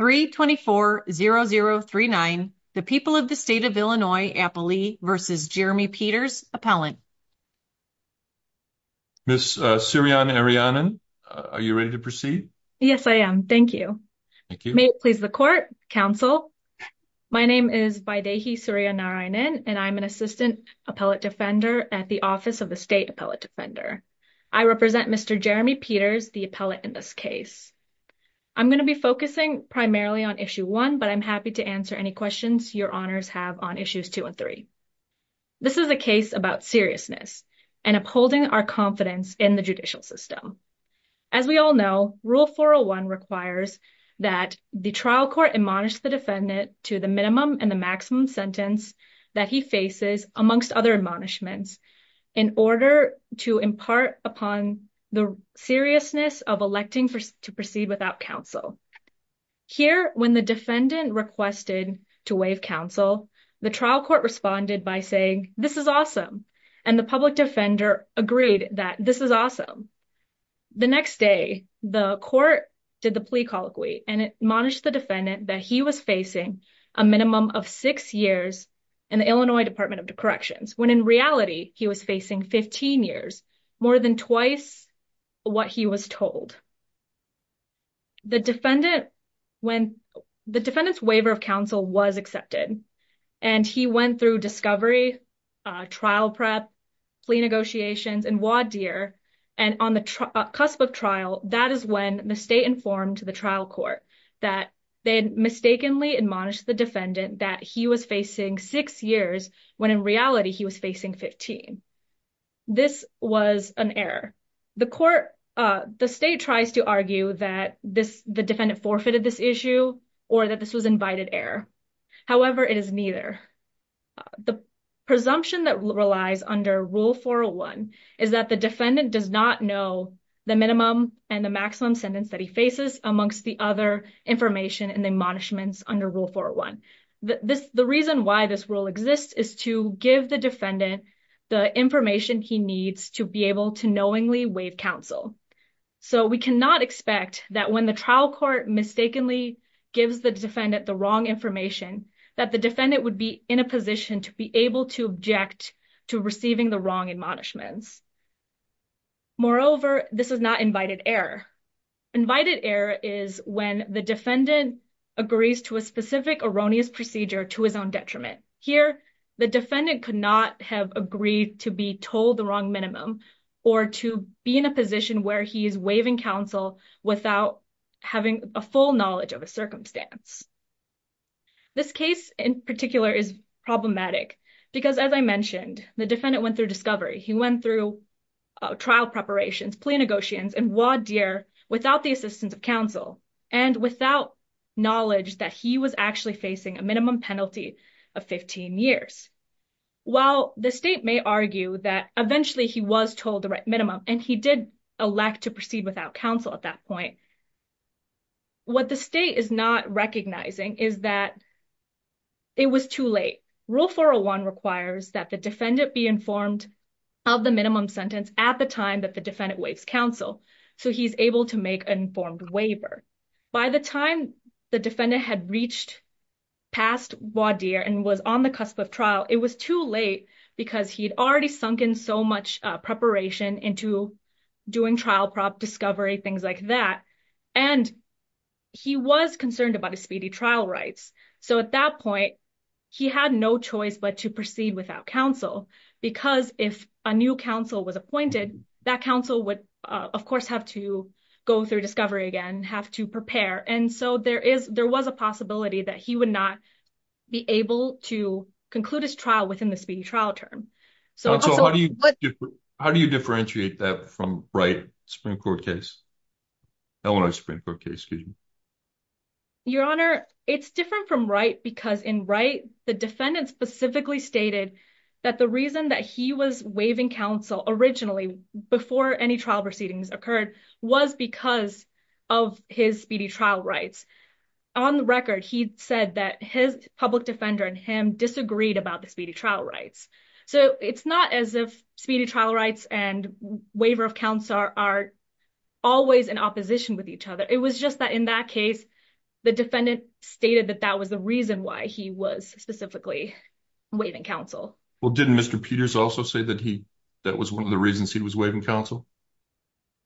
324-0039, the people of the state of Illinois, Appalee, versus Jeremy Peters, Appellant. Ms. Sirian Ariannon, are you ready to proceed? Yes, I am. Thank you. May it please the court, counsel. My name is Vaidehi Sirian Ariannon, and I'm an Assistant Appellate Defender at the Office of the State Appellate Defender. I represent Mr. Jeremy Peters, the appellate in this case. I'm going to be focusing primarily on Issue 1, but I'm happy to answer any questions your honors have on Issues 2 and 3. This is a case about seriousness and upholding our confidence in the judicial system. As we all know, Rule 401 requires that the trial court admonish the defendant to the minimum and the maximum sentence that he faces, amongst other admonishments, in order to impart upon the seriousness of electing to proceed without counsel. Here, when the defendant requested to waive counsel, the trial court responded by saying, this is awesome, and the public defender agreed that this is awesome. The next day, the court did the plea colloquy, and it admonished the defendant that he was facing a minimum of six years in the Illinois Department of Corrections, when in reality he was facing 15 years, more than twice what he was told. The defendant, when the defendant's waiver of counsel was accepted, and he went through discovery, trial prep, plea negotiations, and voir dire, and on the cusp of trial, that is when the state informed the trial court that they had mistakenly admonished the defendant that he was six years, when in reality he was facing 15. This was an error. The court, the state tries to argue that the defendant forfeited this issue, or that this was invited error. However, it is neither. The presumption that relies under Rule 401 is that the defendant does not know the minimum and the maximum sentence that he faces, amongst the other information and admonishments under Rule 401. The reason why this rule exists is to give the defendant the information he needs to be able to knowingly waive counsel. So, we cannot expect that when the trial court mistakenly gives the defendant the wrong information, that the defendant would be in a position to be able to object to receiving the wrong admonishments. Moreover, this is not invited error. Invited error is when the defendant agrees to a specific erroneous procedure to his own detriment. Here, the defendant could not have agreed to be told the wrong minimum or to be in a position where he is waiving counsel without having a full knowledge of a circumstance. This case in particular is problematic because, as I mentioned, the defendant went through discovery. He went through trial preparations, plea negotiations, and voir dire without the assistance of counsel and without knowledge that he was actually facing a minimum penalty of 15 years. While the state may argue that eventually he was told the right minimum and he did elect to proceed without counsel at that point, what the state is not recognizing is that it was too late. Rule 401 requires that the defendant be informed of the minimum sentence at the time that the defendant waives counsel, so he's able to make an informed waiver. By the time the defendant had reached past voir dire and was on the cusp of trial, it was too late because he'd already sunken so much preparation into doing trial prop discovery, things like that, and he was concerned about his speedy trial rights. So at that point, he had no choice but to proceed without counsel because if a new counsel was appointed, that counsel would of course have to go through discovery again, have to prepare, and so there was a possibility that he would not be able to conclude his trial within the speedy trial term. So how do you differentiate that from Wright Supreme Court case? Illinois Supreme Court case, excuse me. Your honor, it's different from Wright because in Wright, the defendant specifically stated that the reason that he was waiving counsel originally before any trial proceedings occurred was because of his speedy trial rights. On the record, he said that his public defender and him disagreed about the rights and waiver of counsel are always in opposition with each other. It was just that in that case, the defendant stated that that was the reason why he was specifically waiving counsel. Well, didn't Mr. Peters also say that he that was one of the reasons he was waiving counsel?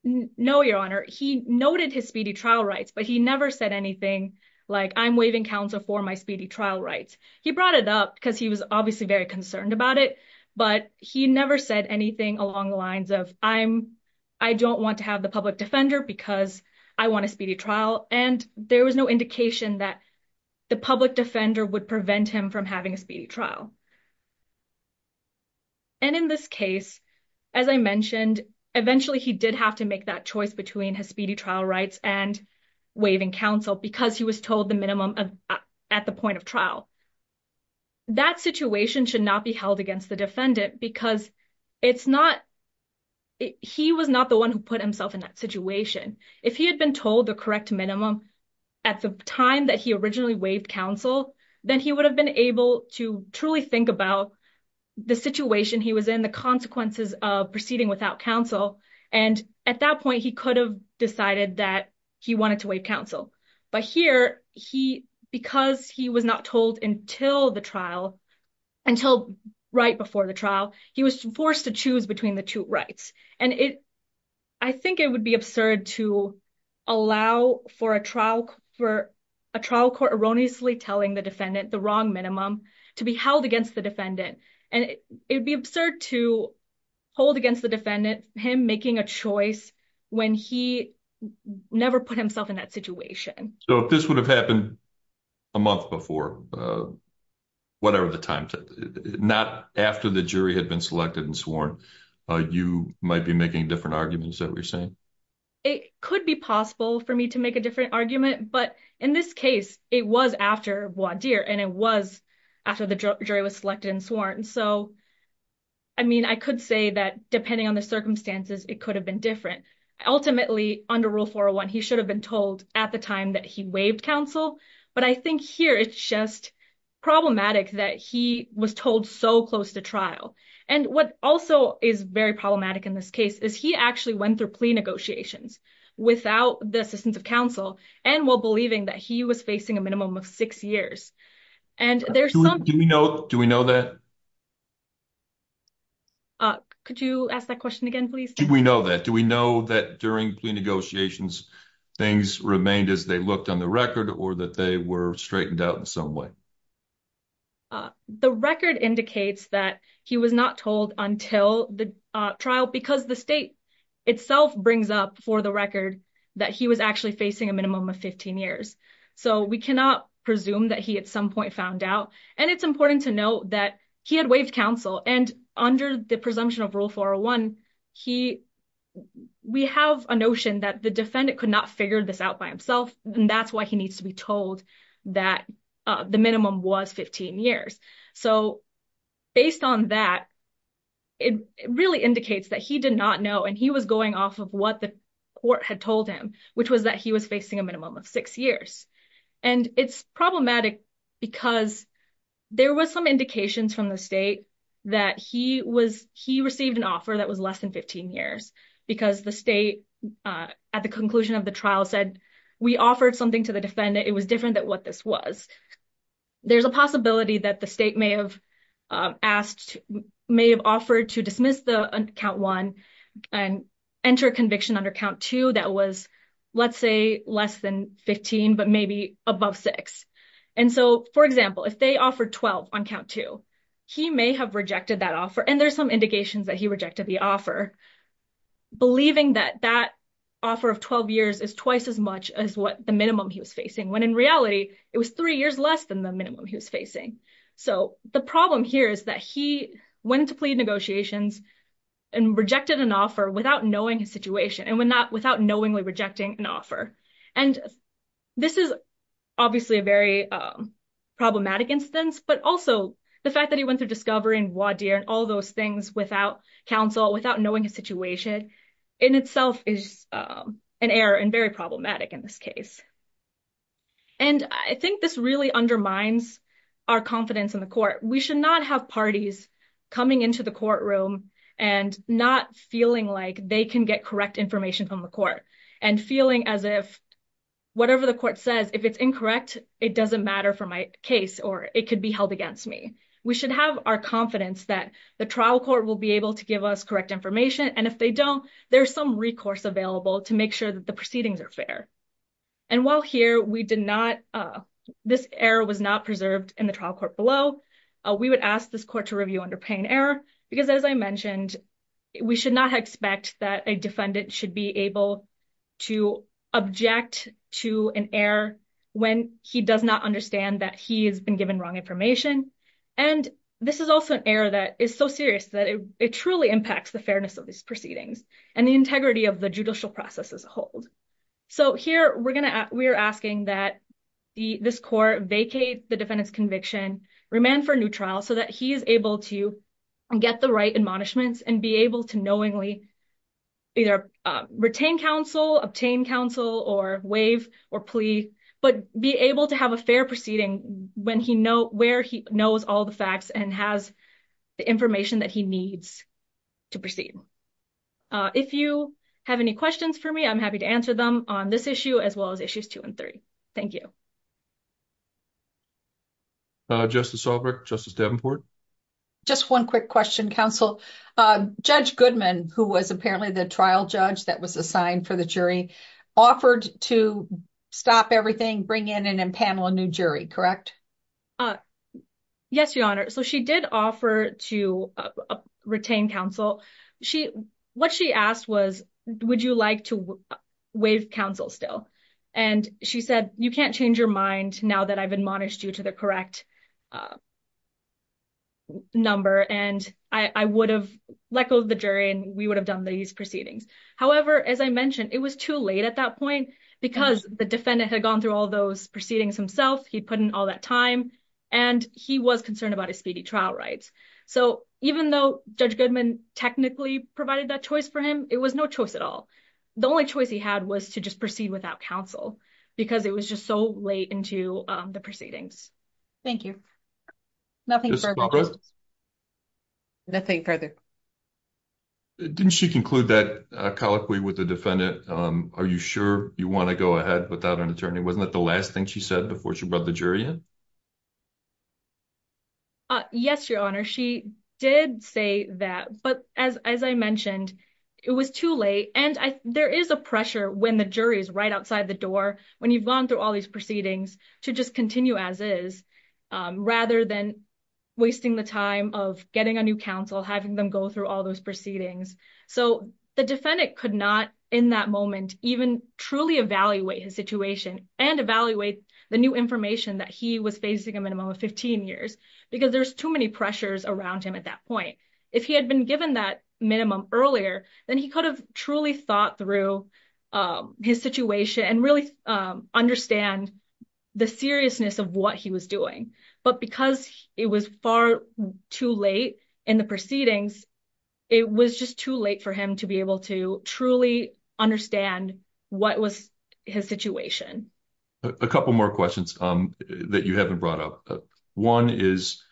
No, your honor. He noted his speedy trial rights, but he never said anything like I'm waiving counsel for my speedy trial rights. He brought it up because he was obviously very concerned about it, but he never said anything along the lines of I don't want to have the public defender because I want a speedy trial. And there was no indication that the public defender would prevent him from having a speedy trial. And in this case, as I mentioned, eventually he did have to make that choice between his speedy trial rights and waiving counsel because he was told the minimum at the point of trial. That situation should not be held against the defendant because it's not he was not the one who put himself in that situation. If he had been told the correct minimum at the time that he originally waived counsel, then he would have been able to truly think about the situation he was in, the consequences of proceeding without counsel. And at that point, he could have decided that he wanted to waive counsel. But here, because he was not told until the trial, until right before the trial, he was forced to choose between the two rights. And I think it would be absurd to allow for a trial court erroneously telling the defendant the wrong minimum to be held against the defendant. And it would be absurd to hold against the defendant him making a choice when he never put himself in that situation. So if this would have happened a month before, whatever the time, not after the jury had been selected and sworn, you might be making different arguments that we're saying? It could be possible for me to make a different argument. But in this case, it was after Bois and it was after the jury was selected and sworn. So, I mean, I could say that depending on the circumstances, it could have been different. Ultimately, under Rule 401, he should have been told at the time that he waived counsel. But I think here it's just problematic that he was told so close to trial. And what also is very problematic in this case is he actually went through plea negotiations without the assistance of counsel and while believing that he was facing a minimum of six years. Do we know that? Could you ask that question again, please? Do we know that? Do we know that during plea negotiations things remained as they looked on the record or that they were straightened out in some way? The record indicates that he was not told until the trial because the state itself brings up for the record that he was actually facing a minimum of 15 years. So, we cannot presume that he at some point found out. And it's important to note that he had waived counsel and under the presumption of Rule 401, we have a notion that the defendant could not figure this out by himself and that's why he needs to be told that the minimum was 15 years. So, based on that, it really indicates that he did not know and he was going off of what the court had told him, which was that he was facing a minimum of six years. And it's problematic because there were some indications from the state that he received an offer that was less than 15 years because the state, at the conclusion of the trial, said we offered something to the defendant. It was different than what this was. There's a possibility that the state may have asked, may have offered to dismiss the count one and enter a conviction under count two that was, let's say, less than 15, but maybe above six. And so, for example, if they offered 12 on count two, he may have rejected that offer. And there's some indications that he rejected the offer, believing that that offer of 12 years is twice as much as what the minimum he was facing, when in it was three years less than the minimum he was facing. So, the problem here is that he went to plead negotiations and rejected an offer without knowing his situation and without knowingly rejecting an offer. And this is obviously a very problematic instance, but also the fact that he went through discovery and voir dire and all those things without counsel, without knowing his situation, in itself is an error and very problematic in this case. And I think this really undermines our confidence in the court. We should not have parties coming into the courtroom and not feeling like they can get correct information from the court and feeling as if whatever the court says, if it's incorrect, it doesn't matter for my case or it could be held against me. We should have our confidence that the trial court will be able to give us correct information. And if they don't, there's some recourse available to make sure that the proceedings are fair. And while here we did not, this error was not preserved in the trial court below. We would ask this court to review under paying error, because as I mentioned, we should not expect that a defendant should be able to object to an error when he does not understand that he has been given wrong information. And this is also an error that is so serious that it truly impacts the fairness of these proceedings and the integrity of the judicial process as a whole. So here we're going to, we're asking that this court vacate the defendant's conviction, remand for a new trial so that he is able to get the right admonishments and be able to knowingly either retain counsel, obtain counsel or waive or plea, but be able to have a fair proceeding when he knows, where he knows all the facts and has the information that he needs to proceed. If you have any questions for me, I'm happy to answer them on this issue, as well as issues two and three. Thank you. Justice Albrecht, Justice Davenport. Just one quick question, counsel. Judge Goodman, who was apparently the trial judge that was assigned for the jury, offered to stop everything, bring in and impanel a new jury, correct? Yes, Your Honor. So she did offer to retain counsel. What she asked was, would you like to waive counsel still? And she said, you can't change your mind now that I've admonished you to the correct number. And I would have let go of the jury and we would have done these proceedings. However, as I mentioned, it was too late at that point because the defendant had gone through all those proceedings himself. He'd put in all that time and he was concerned about his speedy trial rights. So even though Judge Goodman technically provided that choice for him, it was no choice at all. The only choice he had was to just proceed without counsel because it was just so late into the proceedings. Thank you. Nothing further. Didn't she conclude that colloquy with the defendant? Are you sure you want to go ahead without an attorney? Wasn't that the last thing she said before she brought the jury in? Yes, Your Honor. She did say that, but as I mentioned, it was too late. And there is a pressure when the jury is right outside the door, when you've gone through all these proceedings, to just continue as is rather than wasting the time of getting a new counsel, having them go through all those proceedings. So the defendant could not, in that moment, even truly evaluate his situation and evaluate the new information that he was facing a minimum of 15 years because there's too many pressures around him at that point. If he had been given that minimum earlier, then he could have truly thought through his situation and really understand the seriousness of what he was doing. But because it was far too late in the proceedings, it was just too late for him to be able to truly understand what was his situation. A couple more questions that you haven't brought up. One is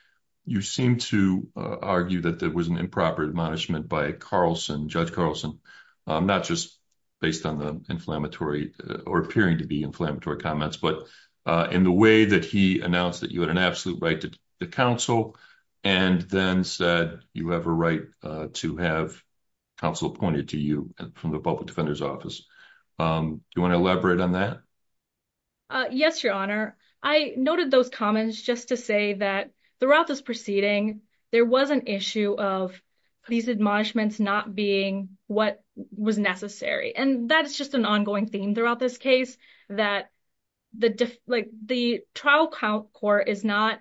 you seem to argue that there was an improper admonishment by Carlson, Judge Carlson, not just based on the inflammatory or appearing to be inflammatory comments, but in the way that he announced that you had an absolute right to counsel and then said you have a right to have counsel appointed to you from the public defender's office. Do you want to elaborate on that? Yes, Your Honor. I noted those comments just to say that throughout this proceeding, there was an issue of these admonishments not being what was necessary. And that's just an ongoing theme throughout this case that the trial court is not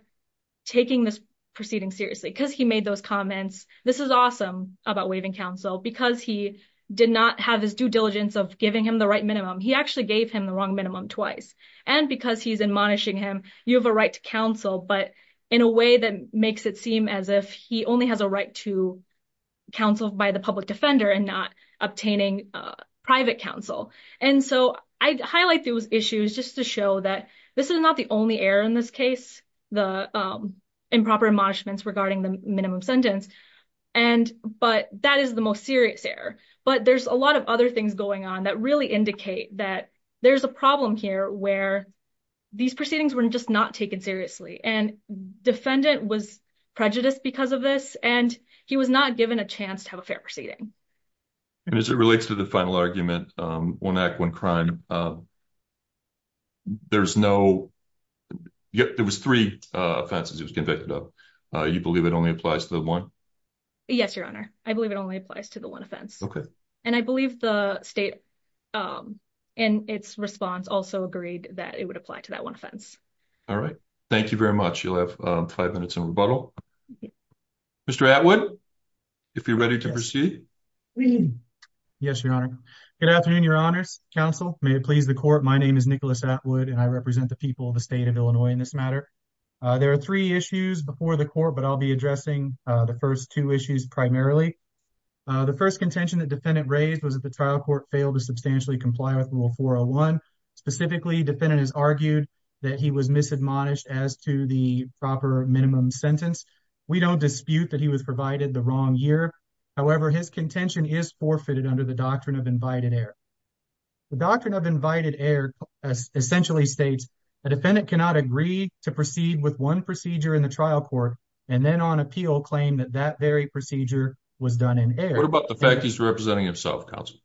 taking this proceeding seriously because he made those comments. This is awesome about waiving counsel because he did not have his due diligence of giving him the right minimum. He actually gave him the wrong minimum twice. And because he's admonishing him, you have a right to counsel, but in a way that makes it seem as if he only has a right to counsel by the public defender and not obtaining private counsel. So I highlight those issues just to show that this is not the only error in this case, the improper admonishments regarding the minimum sentence, but that is the most serious error. But there's a lot of other things going on that really indicate that there's a problem here where these proceedings were just not taken seriously. And defendant was prejudiced because of this, and he was not given a chance to have a fair proceeding. And as it relates to the final argument, one act, one crime, there was three offenses he was convicted of. You believe it only applies to the one? Yes, Your Honor. I believe it only applies to the one offense. And I believe the state in its response also agreed that it would apply to that one offense. All right. Thank you very much. You'll have five minutes in rebuttal. Mr. Atwood, if you're ready to proceed. Yes, Your Honor. Good afternoon, Your Honors. Counsel, may it please the court. My name is Nicholas Atwood, and I represent the people of the state of Illinois in this matter. There are three issues before the court, but I'll be addressing the first two issues primarily. The first contention that defendant raised was that the trial court failed to substantially comply with Rule 401. Specifically, defendant has argued that he was misadmonished as to the proper minimum sentence. We don't dispute that he was provided the wrong year. However, his contention is forfeited under the Doctrine of Invited Error. The Doctrine of Invited Error essentially states a defendant cannot agree to proceed with one procedure in the trial court and then on appeal claim that that very procedure was done in error. What about the fact he's representing himself, counsel?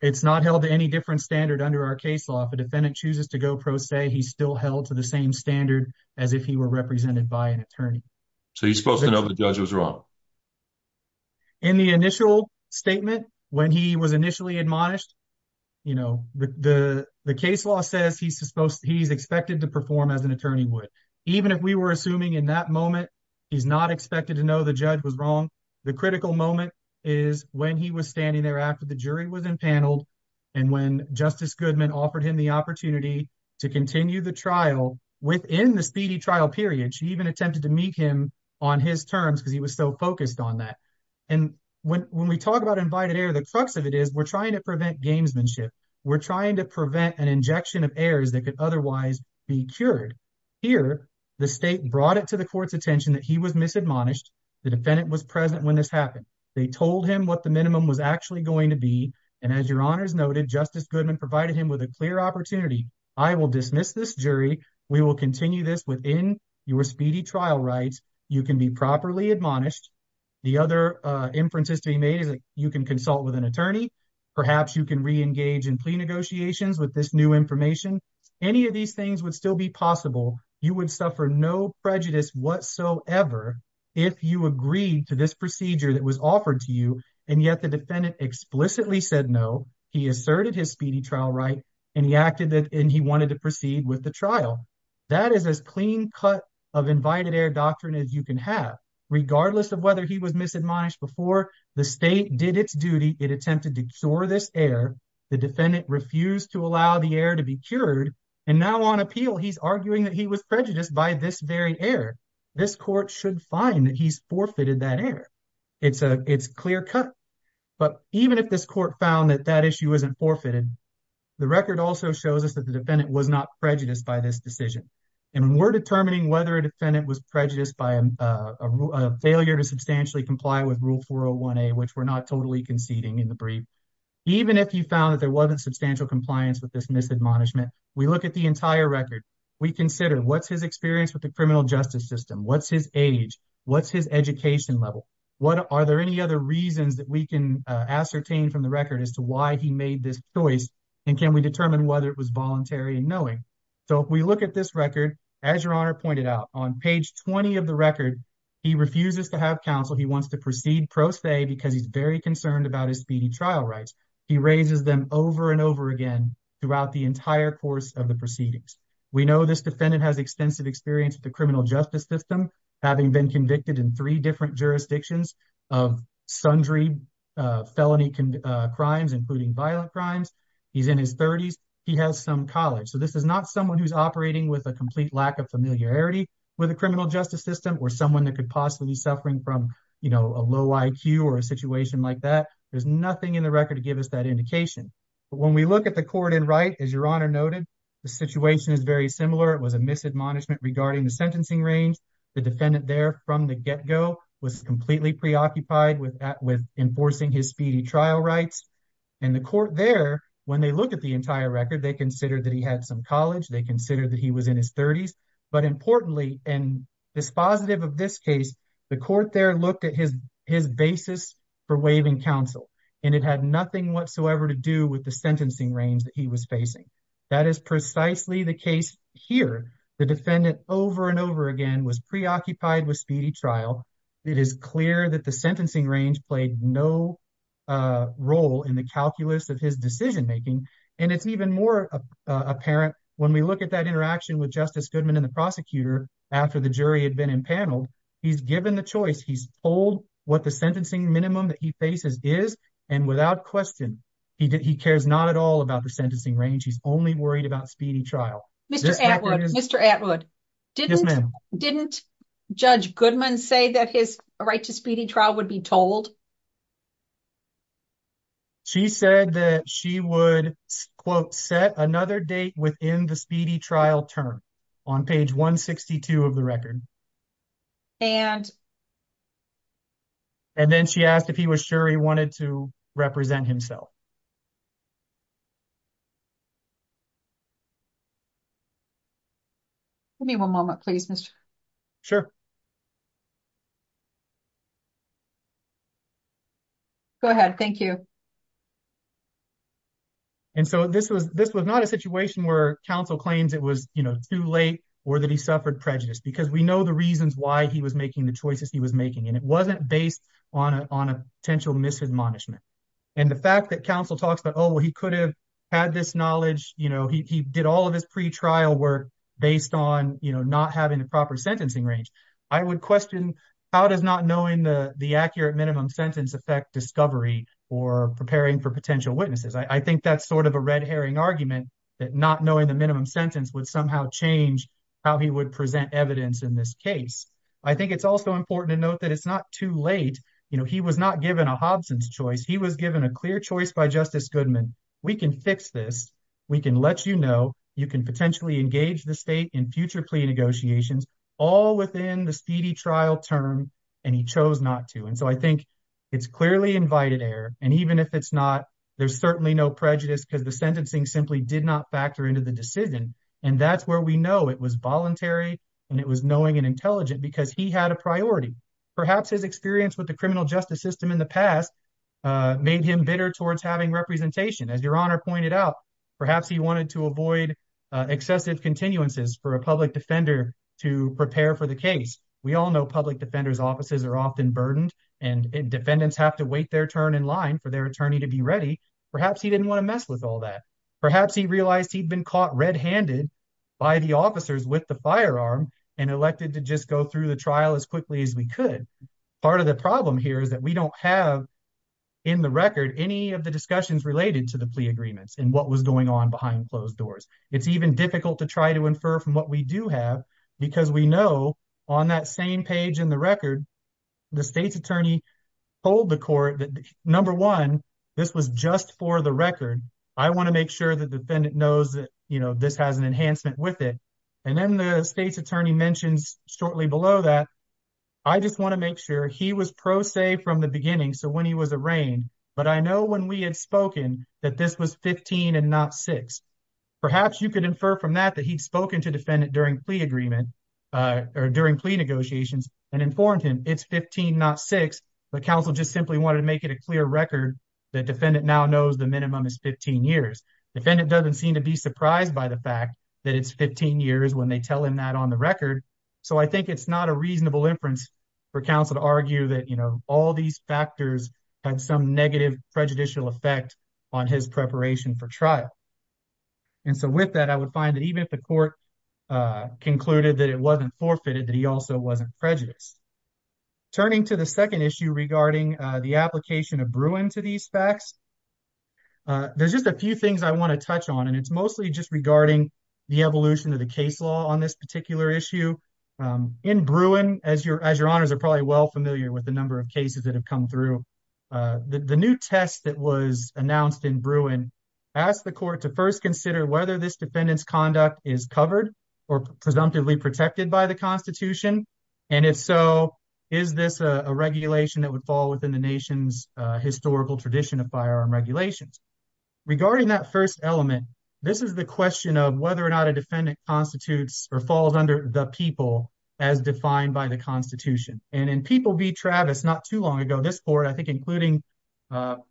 It's not held to any different standard under our case law. If a defendant chooses to go pro se, he's still held to the same standard as if he were represented by an attorney. So he's supposed to know the judge was wrong? In the initial statement, when he was initially admonished, you know, the case law says he's expected to perform as an attorney would. Even if we were assuming in that moment he's not expected to know the judge was wrong, the critical moment is when he was standing there after the jury was empaneled and when Justice Goodman offered him the opportunity to continue the trial within the speedy trial period. She even attempted to meet him on his terms because he was so focused on that. And when we talk about invited error, the crux of it is we're trying to prevent gamesmanship. We're trying to prevent an injection of errors that could otherwise be cured. Here, the state brought it to the court's attention that he was misadmonished. The defendant was present when this happened. They told him what the minimum was actually going to be. And as your honors noted, Justice Goodman provided him with a clear opportunity. I will dismiss this jury. We will continue this within your speedy trial rights. You can be properly admonished. The other inferences to be made is that you can consult with an attorney. Perhaps you can re-engage in plea negotiations with this new information. Any of these things would still be possible. You would suffer no prejudice whatsoever if you agreed to this procedure that was offered to you, and yet the defendant explicitly said no. He asserted his speedy trial right, and he wanted to proceed with the trial. That is as clean cut of invited error doctrine as you can have. Regardless of whether he was misadmonished before, the state did its duty. It attempted to cure this error. The defendant refused to allow the error to be cured. And now on appeal, he's arguing that he was prejudiced by this very error. This court should find that he's forfeited that error. It's clear cut. But even if this court found that that issue isn't forfeited, the record also shows us that the defendant was not prejudiced by this decision. And when we're determining whether a defendant was prejudiced by a failure to substantially comply with Rule 401A, which we're not totally conceding in the brief, even if you found that there wasn't substantial compliance with this misadmonishment, we look at the entire record. We consider what's his experience with the criminal justice system? What's his age? What's his education level? Are there any other reasons that we can ascertain from the record as to why he made this choice? And can we determine whether it was voluntary and knowing? So if we look at this record, as your honor pointed out, on page 20 of the record, he refuses to have counsel. He wants to proceed pro se because he's very concerned about his trial rights. He raises them over and over again throughout the entire course of the proceedings. We know this defendant has extensive experience with the criminal justice system, having been convicted in three different jurisdictions of sundry felony crimes, including violent crimes. He's in his 30s. He has some college. So this is not someone who's operating with a complete lack of familiarity with the criminal justice system or someone that could possibly be suffering from a low IQ or a situation like that. There's nothing in the record to give us that indication. But when we look at the court in right, as your honor noted, the situation is very similar. It was a misadmonishment regarding the sentencing range. The defendant there from the get-go was completely preoccupied with enforcing his speedy trial rights. And the court there, when they look at the entire record, they consider that he had some college. They consider that he was in his 30s. But importantly, and dispositive of this case, the court there looked at his basis for waiving counsel. And it had nothing whatsoever to do with the sentencing range that he was facing. That is precisely the case here. The defendant over and over again was preoccupied with speedy trial. It is clear that the sentencing range played no role in the calculus of his making. And it's even more apparent when we look at that interaction with Justice Goodman and the prosecutor after the jury had been impaneled. He's given the choice. He's told what the sentencing minimum that he faces is. And without question, he cares not at all about the sentencing range. He's only worried about speedy trial. Mr. Atwood, didn't Judge Goodman say that his right to speedy trial would be told? She said that she would quote set another date within the speedy trial term on page 162 of the record. And? And then she asked if he was sure he wanted to represent himself. Let me one moment, please, Mr. Sure. Go ahead. Thank you. And so this was this was not a situation where counsel claims it was too late or that he suffered prejudice because we know the reasons why he was making the choices he was making. And it wasn't based on on a potential misadmonishment. And the fact that counsel talks about, oh, he could have had this knowledge. You know, he did all of his pretrial work based on not having the proper sentencing range. I would question how does not knowing the accurate minimum sentence affect discovery or preparing for potential witnesses? I think that's sort of a red herring argument that not knowing the minimum sentence would somehow change how he would present evidence in this case. I think it's also important to note that it's not too late. He was not given a Hobson's choice. He was given a clear choice by Justice Goodman. We can fix this. We can let you know you can potentially engage the state in future plea negotiations all within the speedy trial term. And he chose not to. And so I think it's clearly invited error. And even if it's not, there's certainly no prejudice because the sentencing simply did not factor into the decision. And that's where we know it was voluntary and it was knowing and intelligent because he had a priority. Perhaps his experience with the criminal justice system in the past made him bitter towards having representation. As your honor pointed out, perhaps he wanted to avoid excessive continuances for a public defender to prepare for the case. We all know public defenders offices are often burdened and defendants have to wait their turn in line for their attorney to be ready. Perhaps he want to mess with all that. Perhaps he realized he'd been caught red handed by the officers with the firearm and elected to just go through the trial as quickly as we could. Part of the problem here is that we don't have in the record any of the discussions related to the plea agreements and what was going on behind closed doors. It's even difficult to try to infer from what we do have because we know on that same page in the record, the state's attorney told the court that number one, this was just for the record. I want to make sure the defendant knows that you know this has an enhancement with it. And then the state's attorney mentions shortly below that, I just want to make sure he was pro se from the beginning. So when he was arraigned, but I know when we had spoken that this was 15 and not six. Perhaps you could infer from that that he'd spoken to defendant during plea agreement or during plea negotiations and it's 15 not six, but counsel just simply wanted to make it a clear record that defendant now knows the minimum is 15 years. Defendant doesn't seem to be surprised by the fact that it's 15 years when they tell him that on the record. So I think it's not a reasonable inference for counsel to argue that all these factors had some negative prejudicial effect on his preparation for trial. And so with that, I would find that even if the court concluded that it wasn't forfeited, that he also wasn't prejudiced. Turning to the second issue regarding the application of Bruin to these facts, there's just a few things I want to touch on and it's mostly just regarding the evolution of the case law on this particular issue. In Bruin, as your as your honors are probably well familiar with the number of cases that have come through, the new test that was announced in Bruin asked the court to first consider whether this defendant's conduct is covered or presumptively protected by the Constitution. And if so, is this a regulation that would fall within the nation's historical tradition of firearm regulations? Regarding that first element, this is the question of whether or not a defendant constitutes or falls under the people as defined by the Constitution. And in People v. Travis not too long ago, this court, I think including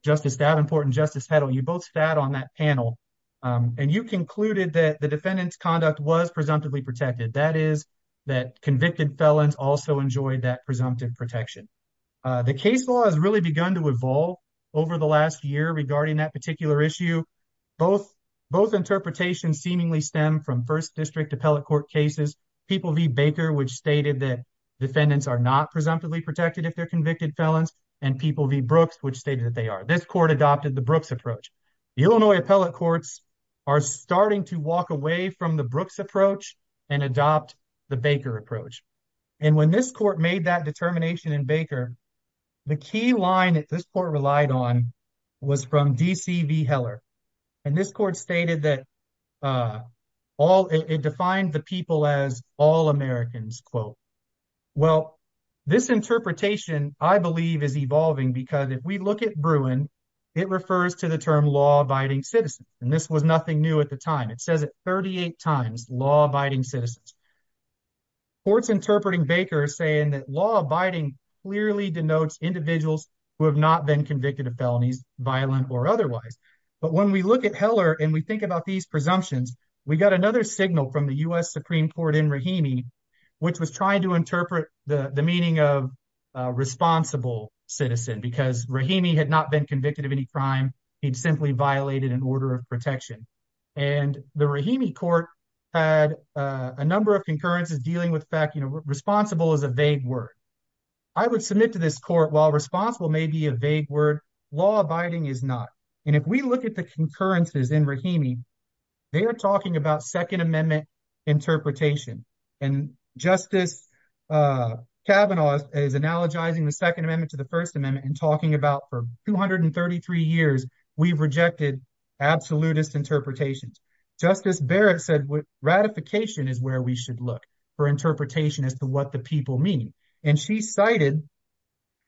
Justice Davenport and Justice Heddle, you both sat on that panel and you concluded that the defendant's conduct was presumptively protected. That is, that convicted felons also enjoyed that presumptive protection. The case law has really begun to evolve over the last year regarding that particular issue. Both interpretations seemingly stem from first district appellate court cases, People v. Baker, which stated that defendants are not presumptively protected if they're convicted felons, and People v. Brooks, which stated that they are. This court adopted the Brooks approach. The Illinois appellate courts are starting to walk away from the Brooks approach and adopt the Baker approach. And when this court made that determination in Baker, the key line that this court relied on was from D.C. v. Heller. And this court stated that it defined the people as all Americans, quote. Well, this interpretation, I believe, is evolving because if we look at Bruin, it refers to the term law-abiding citizen. And this was nothing new at the time. It says it 38 times, law-abiding citizens. Courts interpreting Baker saying that law-abiding clearly denotes individuals who have not been convicted of felonies, violent or otherwise. But when we look at Heller and we think about these presumptions, we got another signal from the U.S. Supreme Court in Rahimi, which was trying to interpret the meaning of responsible citizen because Rahimi had not been convicted of any crime. He'd simply violated an order of protection. And the Rahimi court had a number of concurrences dealing with the fact, you know, responsible is a vague word. I would submit to this court, while responsible may be a vague word, law-abiding is not. And if we look at the concurrences in Rahimi, they are talking about Second Amendment interpretation. And Justice Kavanaugh is analogizing the Second Amendment to the First Amendment and talking about 233 years we've rejected absolutist interpretations. Justice Barrett said ratification is where we should look for interpretation as to what the people mean. And she cited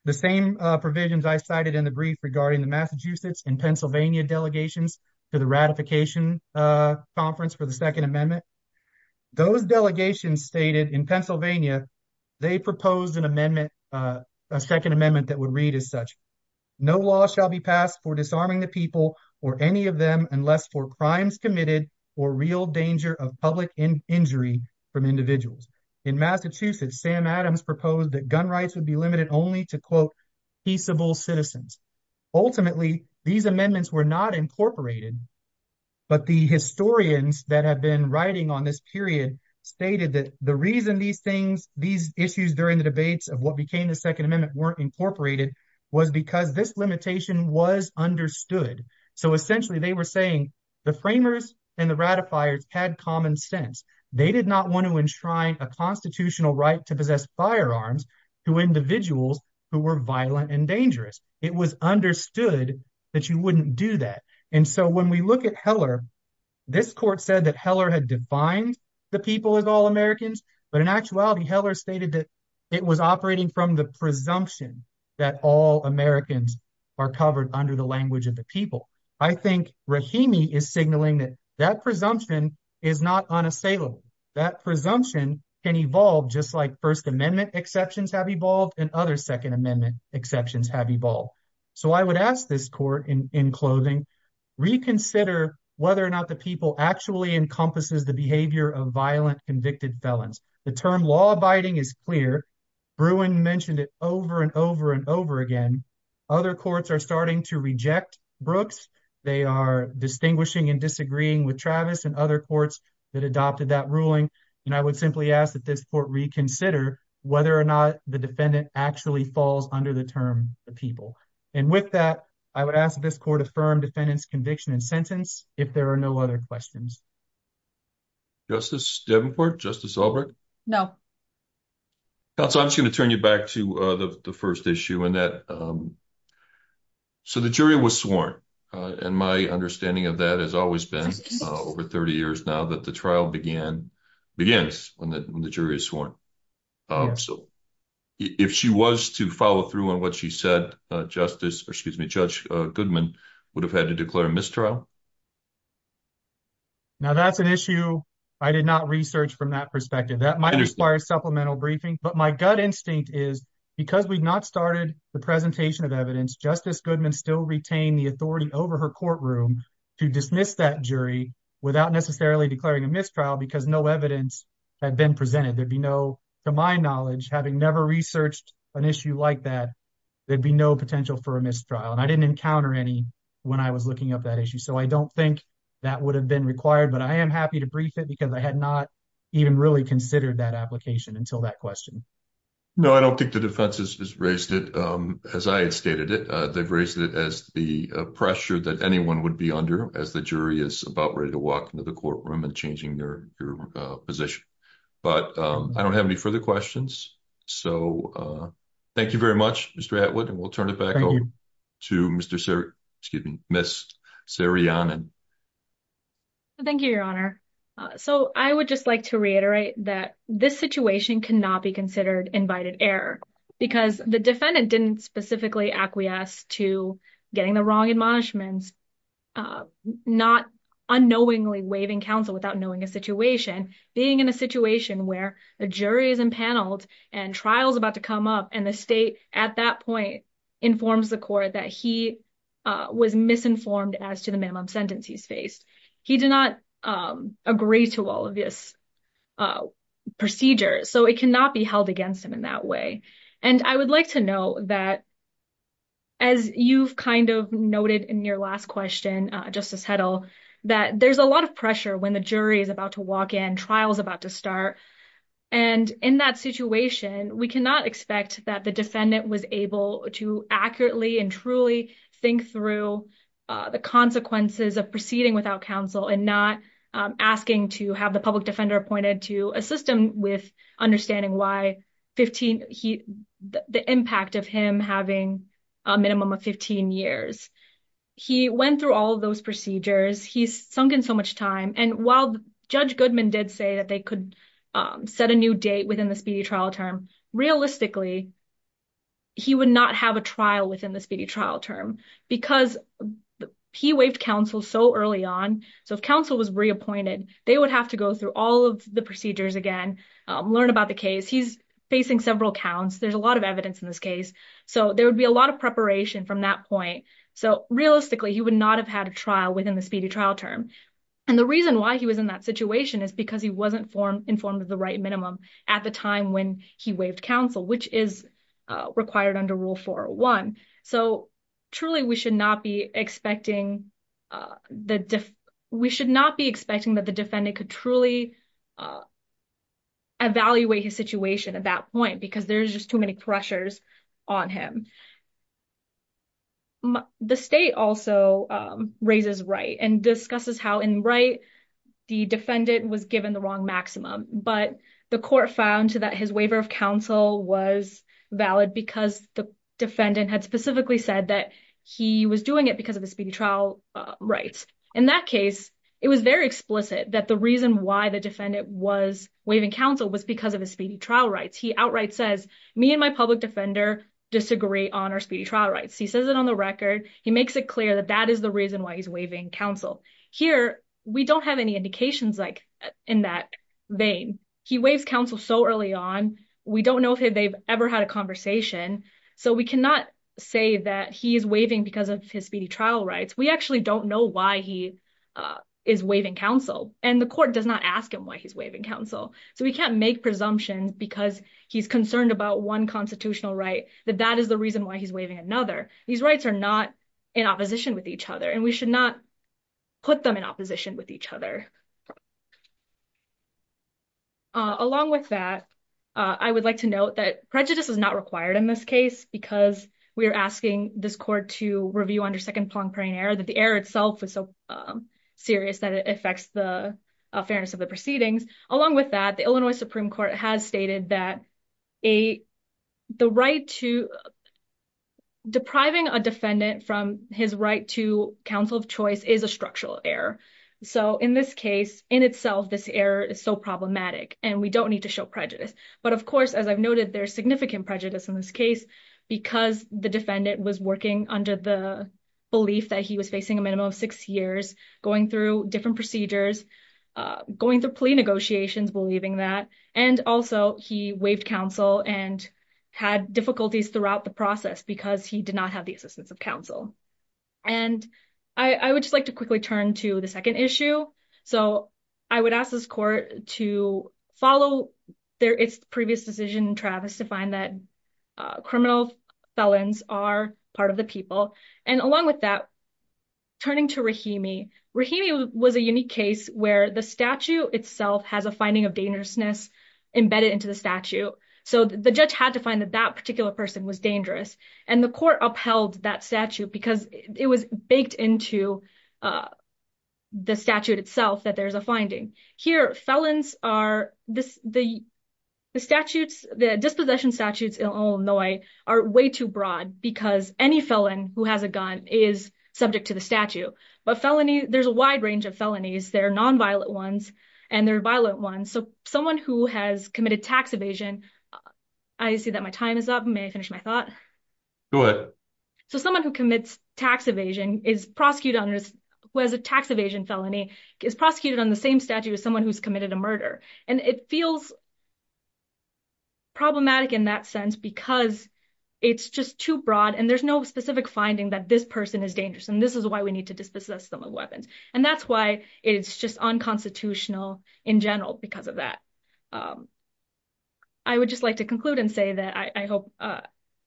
the same provisions I cited in the brief regarding the Massachusetts and Pennsylvania delegations to the ratification conference for the Second Amendment. Those delegations stated in Pennsylvania, they proposed a Second Amendment that would read as such, no law shall be passed for disarming the people or any of them unless for crimes committed or real danger of public injury from individuals. In Massachusetts, Sam Adams proposed that gun rights would be limited only to, quote, peaceable citizens. Ultimately, these amendments were not incorporated. But the historians that have been writing on this period stated that the reason these things, these issues during the debates of what became the Second Amendment weren't incorporated was because this limitation was understood. So essentially, they were saying the framers and the ratifiers had common sense. They did not want to enshrine a constitutional right to possess firearms to individuals who were violent and dangerous. It was understood that you wouldn't do that. And so when we look at Heller, this court said that Heller had defined the people as all Americans. But in actuality, Heller stated that it was operating from the presumption that all Americans are covered under the language of the people. I think Rahimi is signaling that that presumption is not unassailable. That presumption can evolve just like First Amendment exceptions have evolved and other Second Amendment exceptions have evolved. So I would ask this court in clothing, reconsider whether or not the people actually encompasses the behavior of violent convicted felons. The term law abiding is clear. Bruin mentioned it over and over and over again. Other courts are starting to reject Brooks. They are distinguishing and disagreeing with Travis and other courts that adopted that ruling. And I would simply ask that this court reconsider whether or not the defendant actually falls under the term the people. And with that, I would ask this court affirm defendant's conviction and sentence if there are no other questions. Justice Devenport? Justice Albrecht? No. So I'm just going to turn you back to the first issue. So the jury was sworn. And my understanding of that has always been over 30 years now that the trial began begins when the jury is sworn. So if she was to follow through on what she said, Justice, excuse me, Judge Goodman would have had to declare a mistrial. Now that's an issue I did not research from that perspective. That might require supplemental briefing. But my gut instinct is because we've not started the presentation of evidence, Justice Goodman still retain the authority over her courtroom to dismiss that jury without necessarily declaring a mistrial because no evidence had been presented. There'd be no, to my knowledge, having never researched an issue like that, there'd be no potential for a mistrial. And I didn't encounter any when I was looking up that issue. So I don't think that would have been required, but I am happy to brief it because I had not even really considered that application until that question. No, I don't think the defense has raised it as I had stated it. They've raised it as the pressure that anyone would be under as the jury is about ready to walk into the courtroom and changing their position. But I don't have any further questions. So thank you very much, Mr. Atwood. And we'll turn it back over to Mr. Sir, excuse me, Ms. Sarianen. Thank you, Your Honor. So I would just like to reiterate that this situation cannot be considered invited error because the defendant didn't specifically acquiesce to getting the wrong admonishments, not unknowingly waiving counsel without knowing a situation, being in a situation where the jury is impaneled and trial's about to come up and the state at that point informs the court that he was misinformed as to the minimum sentence he's faced. He did not agree to all of this procedure. So it cannot be held against him in that way. And I would like to know that as you've kind of noted in your last question, Justice Heddle, that there's a lot of pressure when the jury is about to walk in, trial's about to start. And in that situation, we cannot expect that the defendant was able to accurately and truly think through the consequences of proceeding without counsel and not asking to have the public defender appointed to assist him with understanding why the impact of him having a minimum of 15 years. He went through all of those procedures. He's sunk in so much time. And while Judge Goodman did say that they could set a new date within the speedy trial term, realistically, he would not have a trial within the speedy trial term because he waived counsel so early on. So if counsel was reappointed, they would have to go through all of the procedures again, learn about the case. He's facing several counts. There's a lot of evidence in this case. So there would be a lot of preparation from that point. So realistically, he would not have had a trial within the speedy trial term. And the reason why he was in that situation is because he wasn't informed of the right minimum at the time when he waived counsel, which is required under Rule 401. So truly, we should not be expecting that the defendant could truly evaluate his situation at that point because there's just too many pressures on him. The state also raises Wright and discusses how in Wright, the defendant was given the wrong maximum, but the court found that his waiver of counsel was valid because the defendant had specifically said that he was doing it because of the speedy trial rights. In that case, it was very explicit that the reason why the defendant was waiving counsel was because of his speedy trial rights. He outright says, me and my public defender disagree on our speedy trial rights. He says it on the record. He makes it clear that that is the reason why he's waiving counsel. Here, we don't have any indications in that vein. He waives counsel so early on. We don't know if they've ever had a conversation. So we cannot say that he is waiving because of his speedy trial rights. We actually don't know why he is waiving counsel. And the court does not ask him why he's waiving counsel. So we can't make presumptions because he's concerned about one constitutional right, that that is the reason why he's waiving another. These rights are not in opposition with each other. And we should not put them in opposition with each other. Along with that, I would like to note that prejudice is not required in this case because we are asking this court to review under second Plonk-Prain error that the error itself is so serious that it affects the fairness of the proceedings. Along with that, the Illinois Supreme Court has stated that depriving a defendant from his right to counsel of choice is a structural error. So in this case, in itself, this error is so problematic and we don't need to show prejudice. But of course, as I've noted, there's significant prejudice in this case because the defendant was working under the belief that he was facing a minimum of six years, going through different procedures, going through plea negotiations, believing that. And also, he waived counsel and had difficulties throughout the process because he did not have the assistance of counsel. And I would just like to quickly turn to the second issue. So I would ask this court to follow its previous decision in Travis to find that criminal felons are part of the people. And along with that, turning to Rahimi, Rahimi was a unique case where the statute itself has a finding of dangerousness embedded into the statute. So the judge had to find that that particular person was dangerous. And the court upheld that statute because it was baked into the statute itself that there's a finding. Here, felons are, the statutes, the dispossession statutes in Illinois are way too broad because any felon who has a gun is subject to the statute. But felony, there's a wide range of felonies. There are nonviolent ones and there are violent ones. So someone who has committed tax evasion, I see that my time is up. May I finish my thought? Go ahead. So someone who commits tax evasion is prosecuted on, who has a tax evasion felony, is prosecuted on the same statute as someone who's committed a murder. And it feels problematic in that sense because it's just too broad and there's no specific finding that this person is dangerous. And this is why we need to dispossess them of weapons. And that's why it's just unconstitutional in general because of that. I would just like to conclude and say that I hope I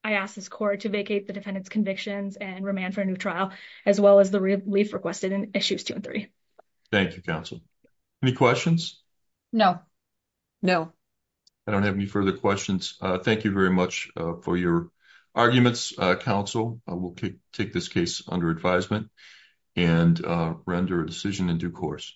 asked this court to vacate the defendant's convictions and remand for a new trial, as well as the relief requested in issues two and three. Thank you, counsel. Any questions? No. No. I don't have any further questions. Thank you very much for your arguments, counsel. I will take this case under advisement and render a decision in due course.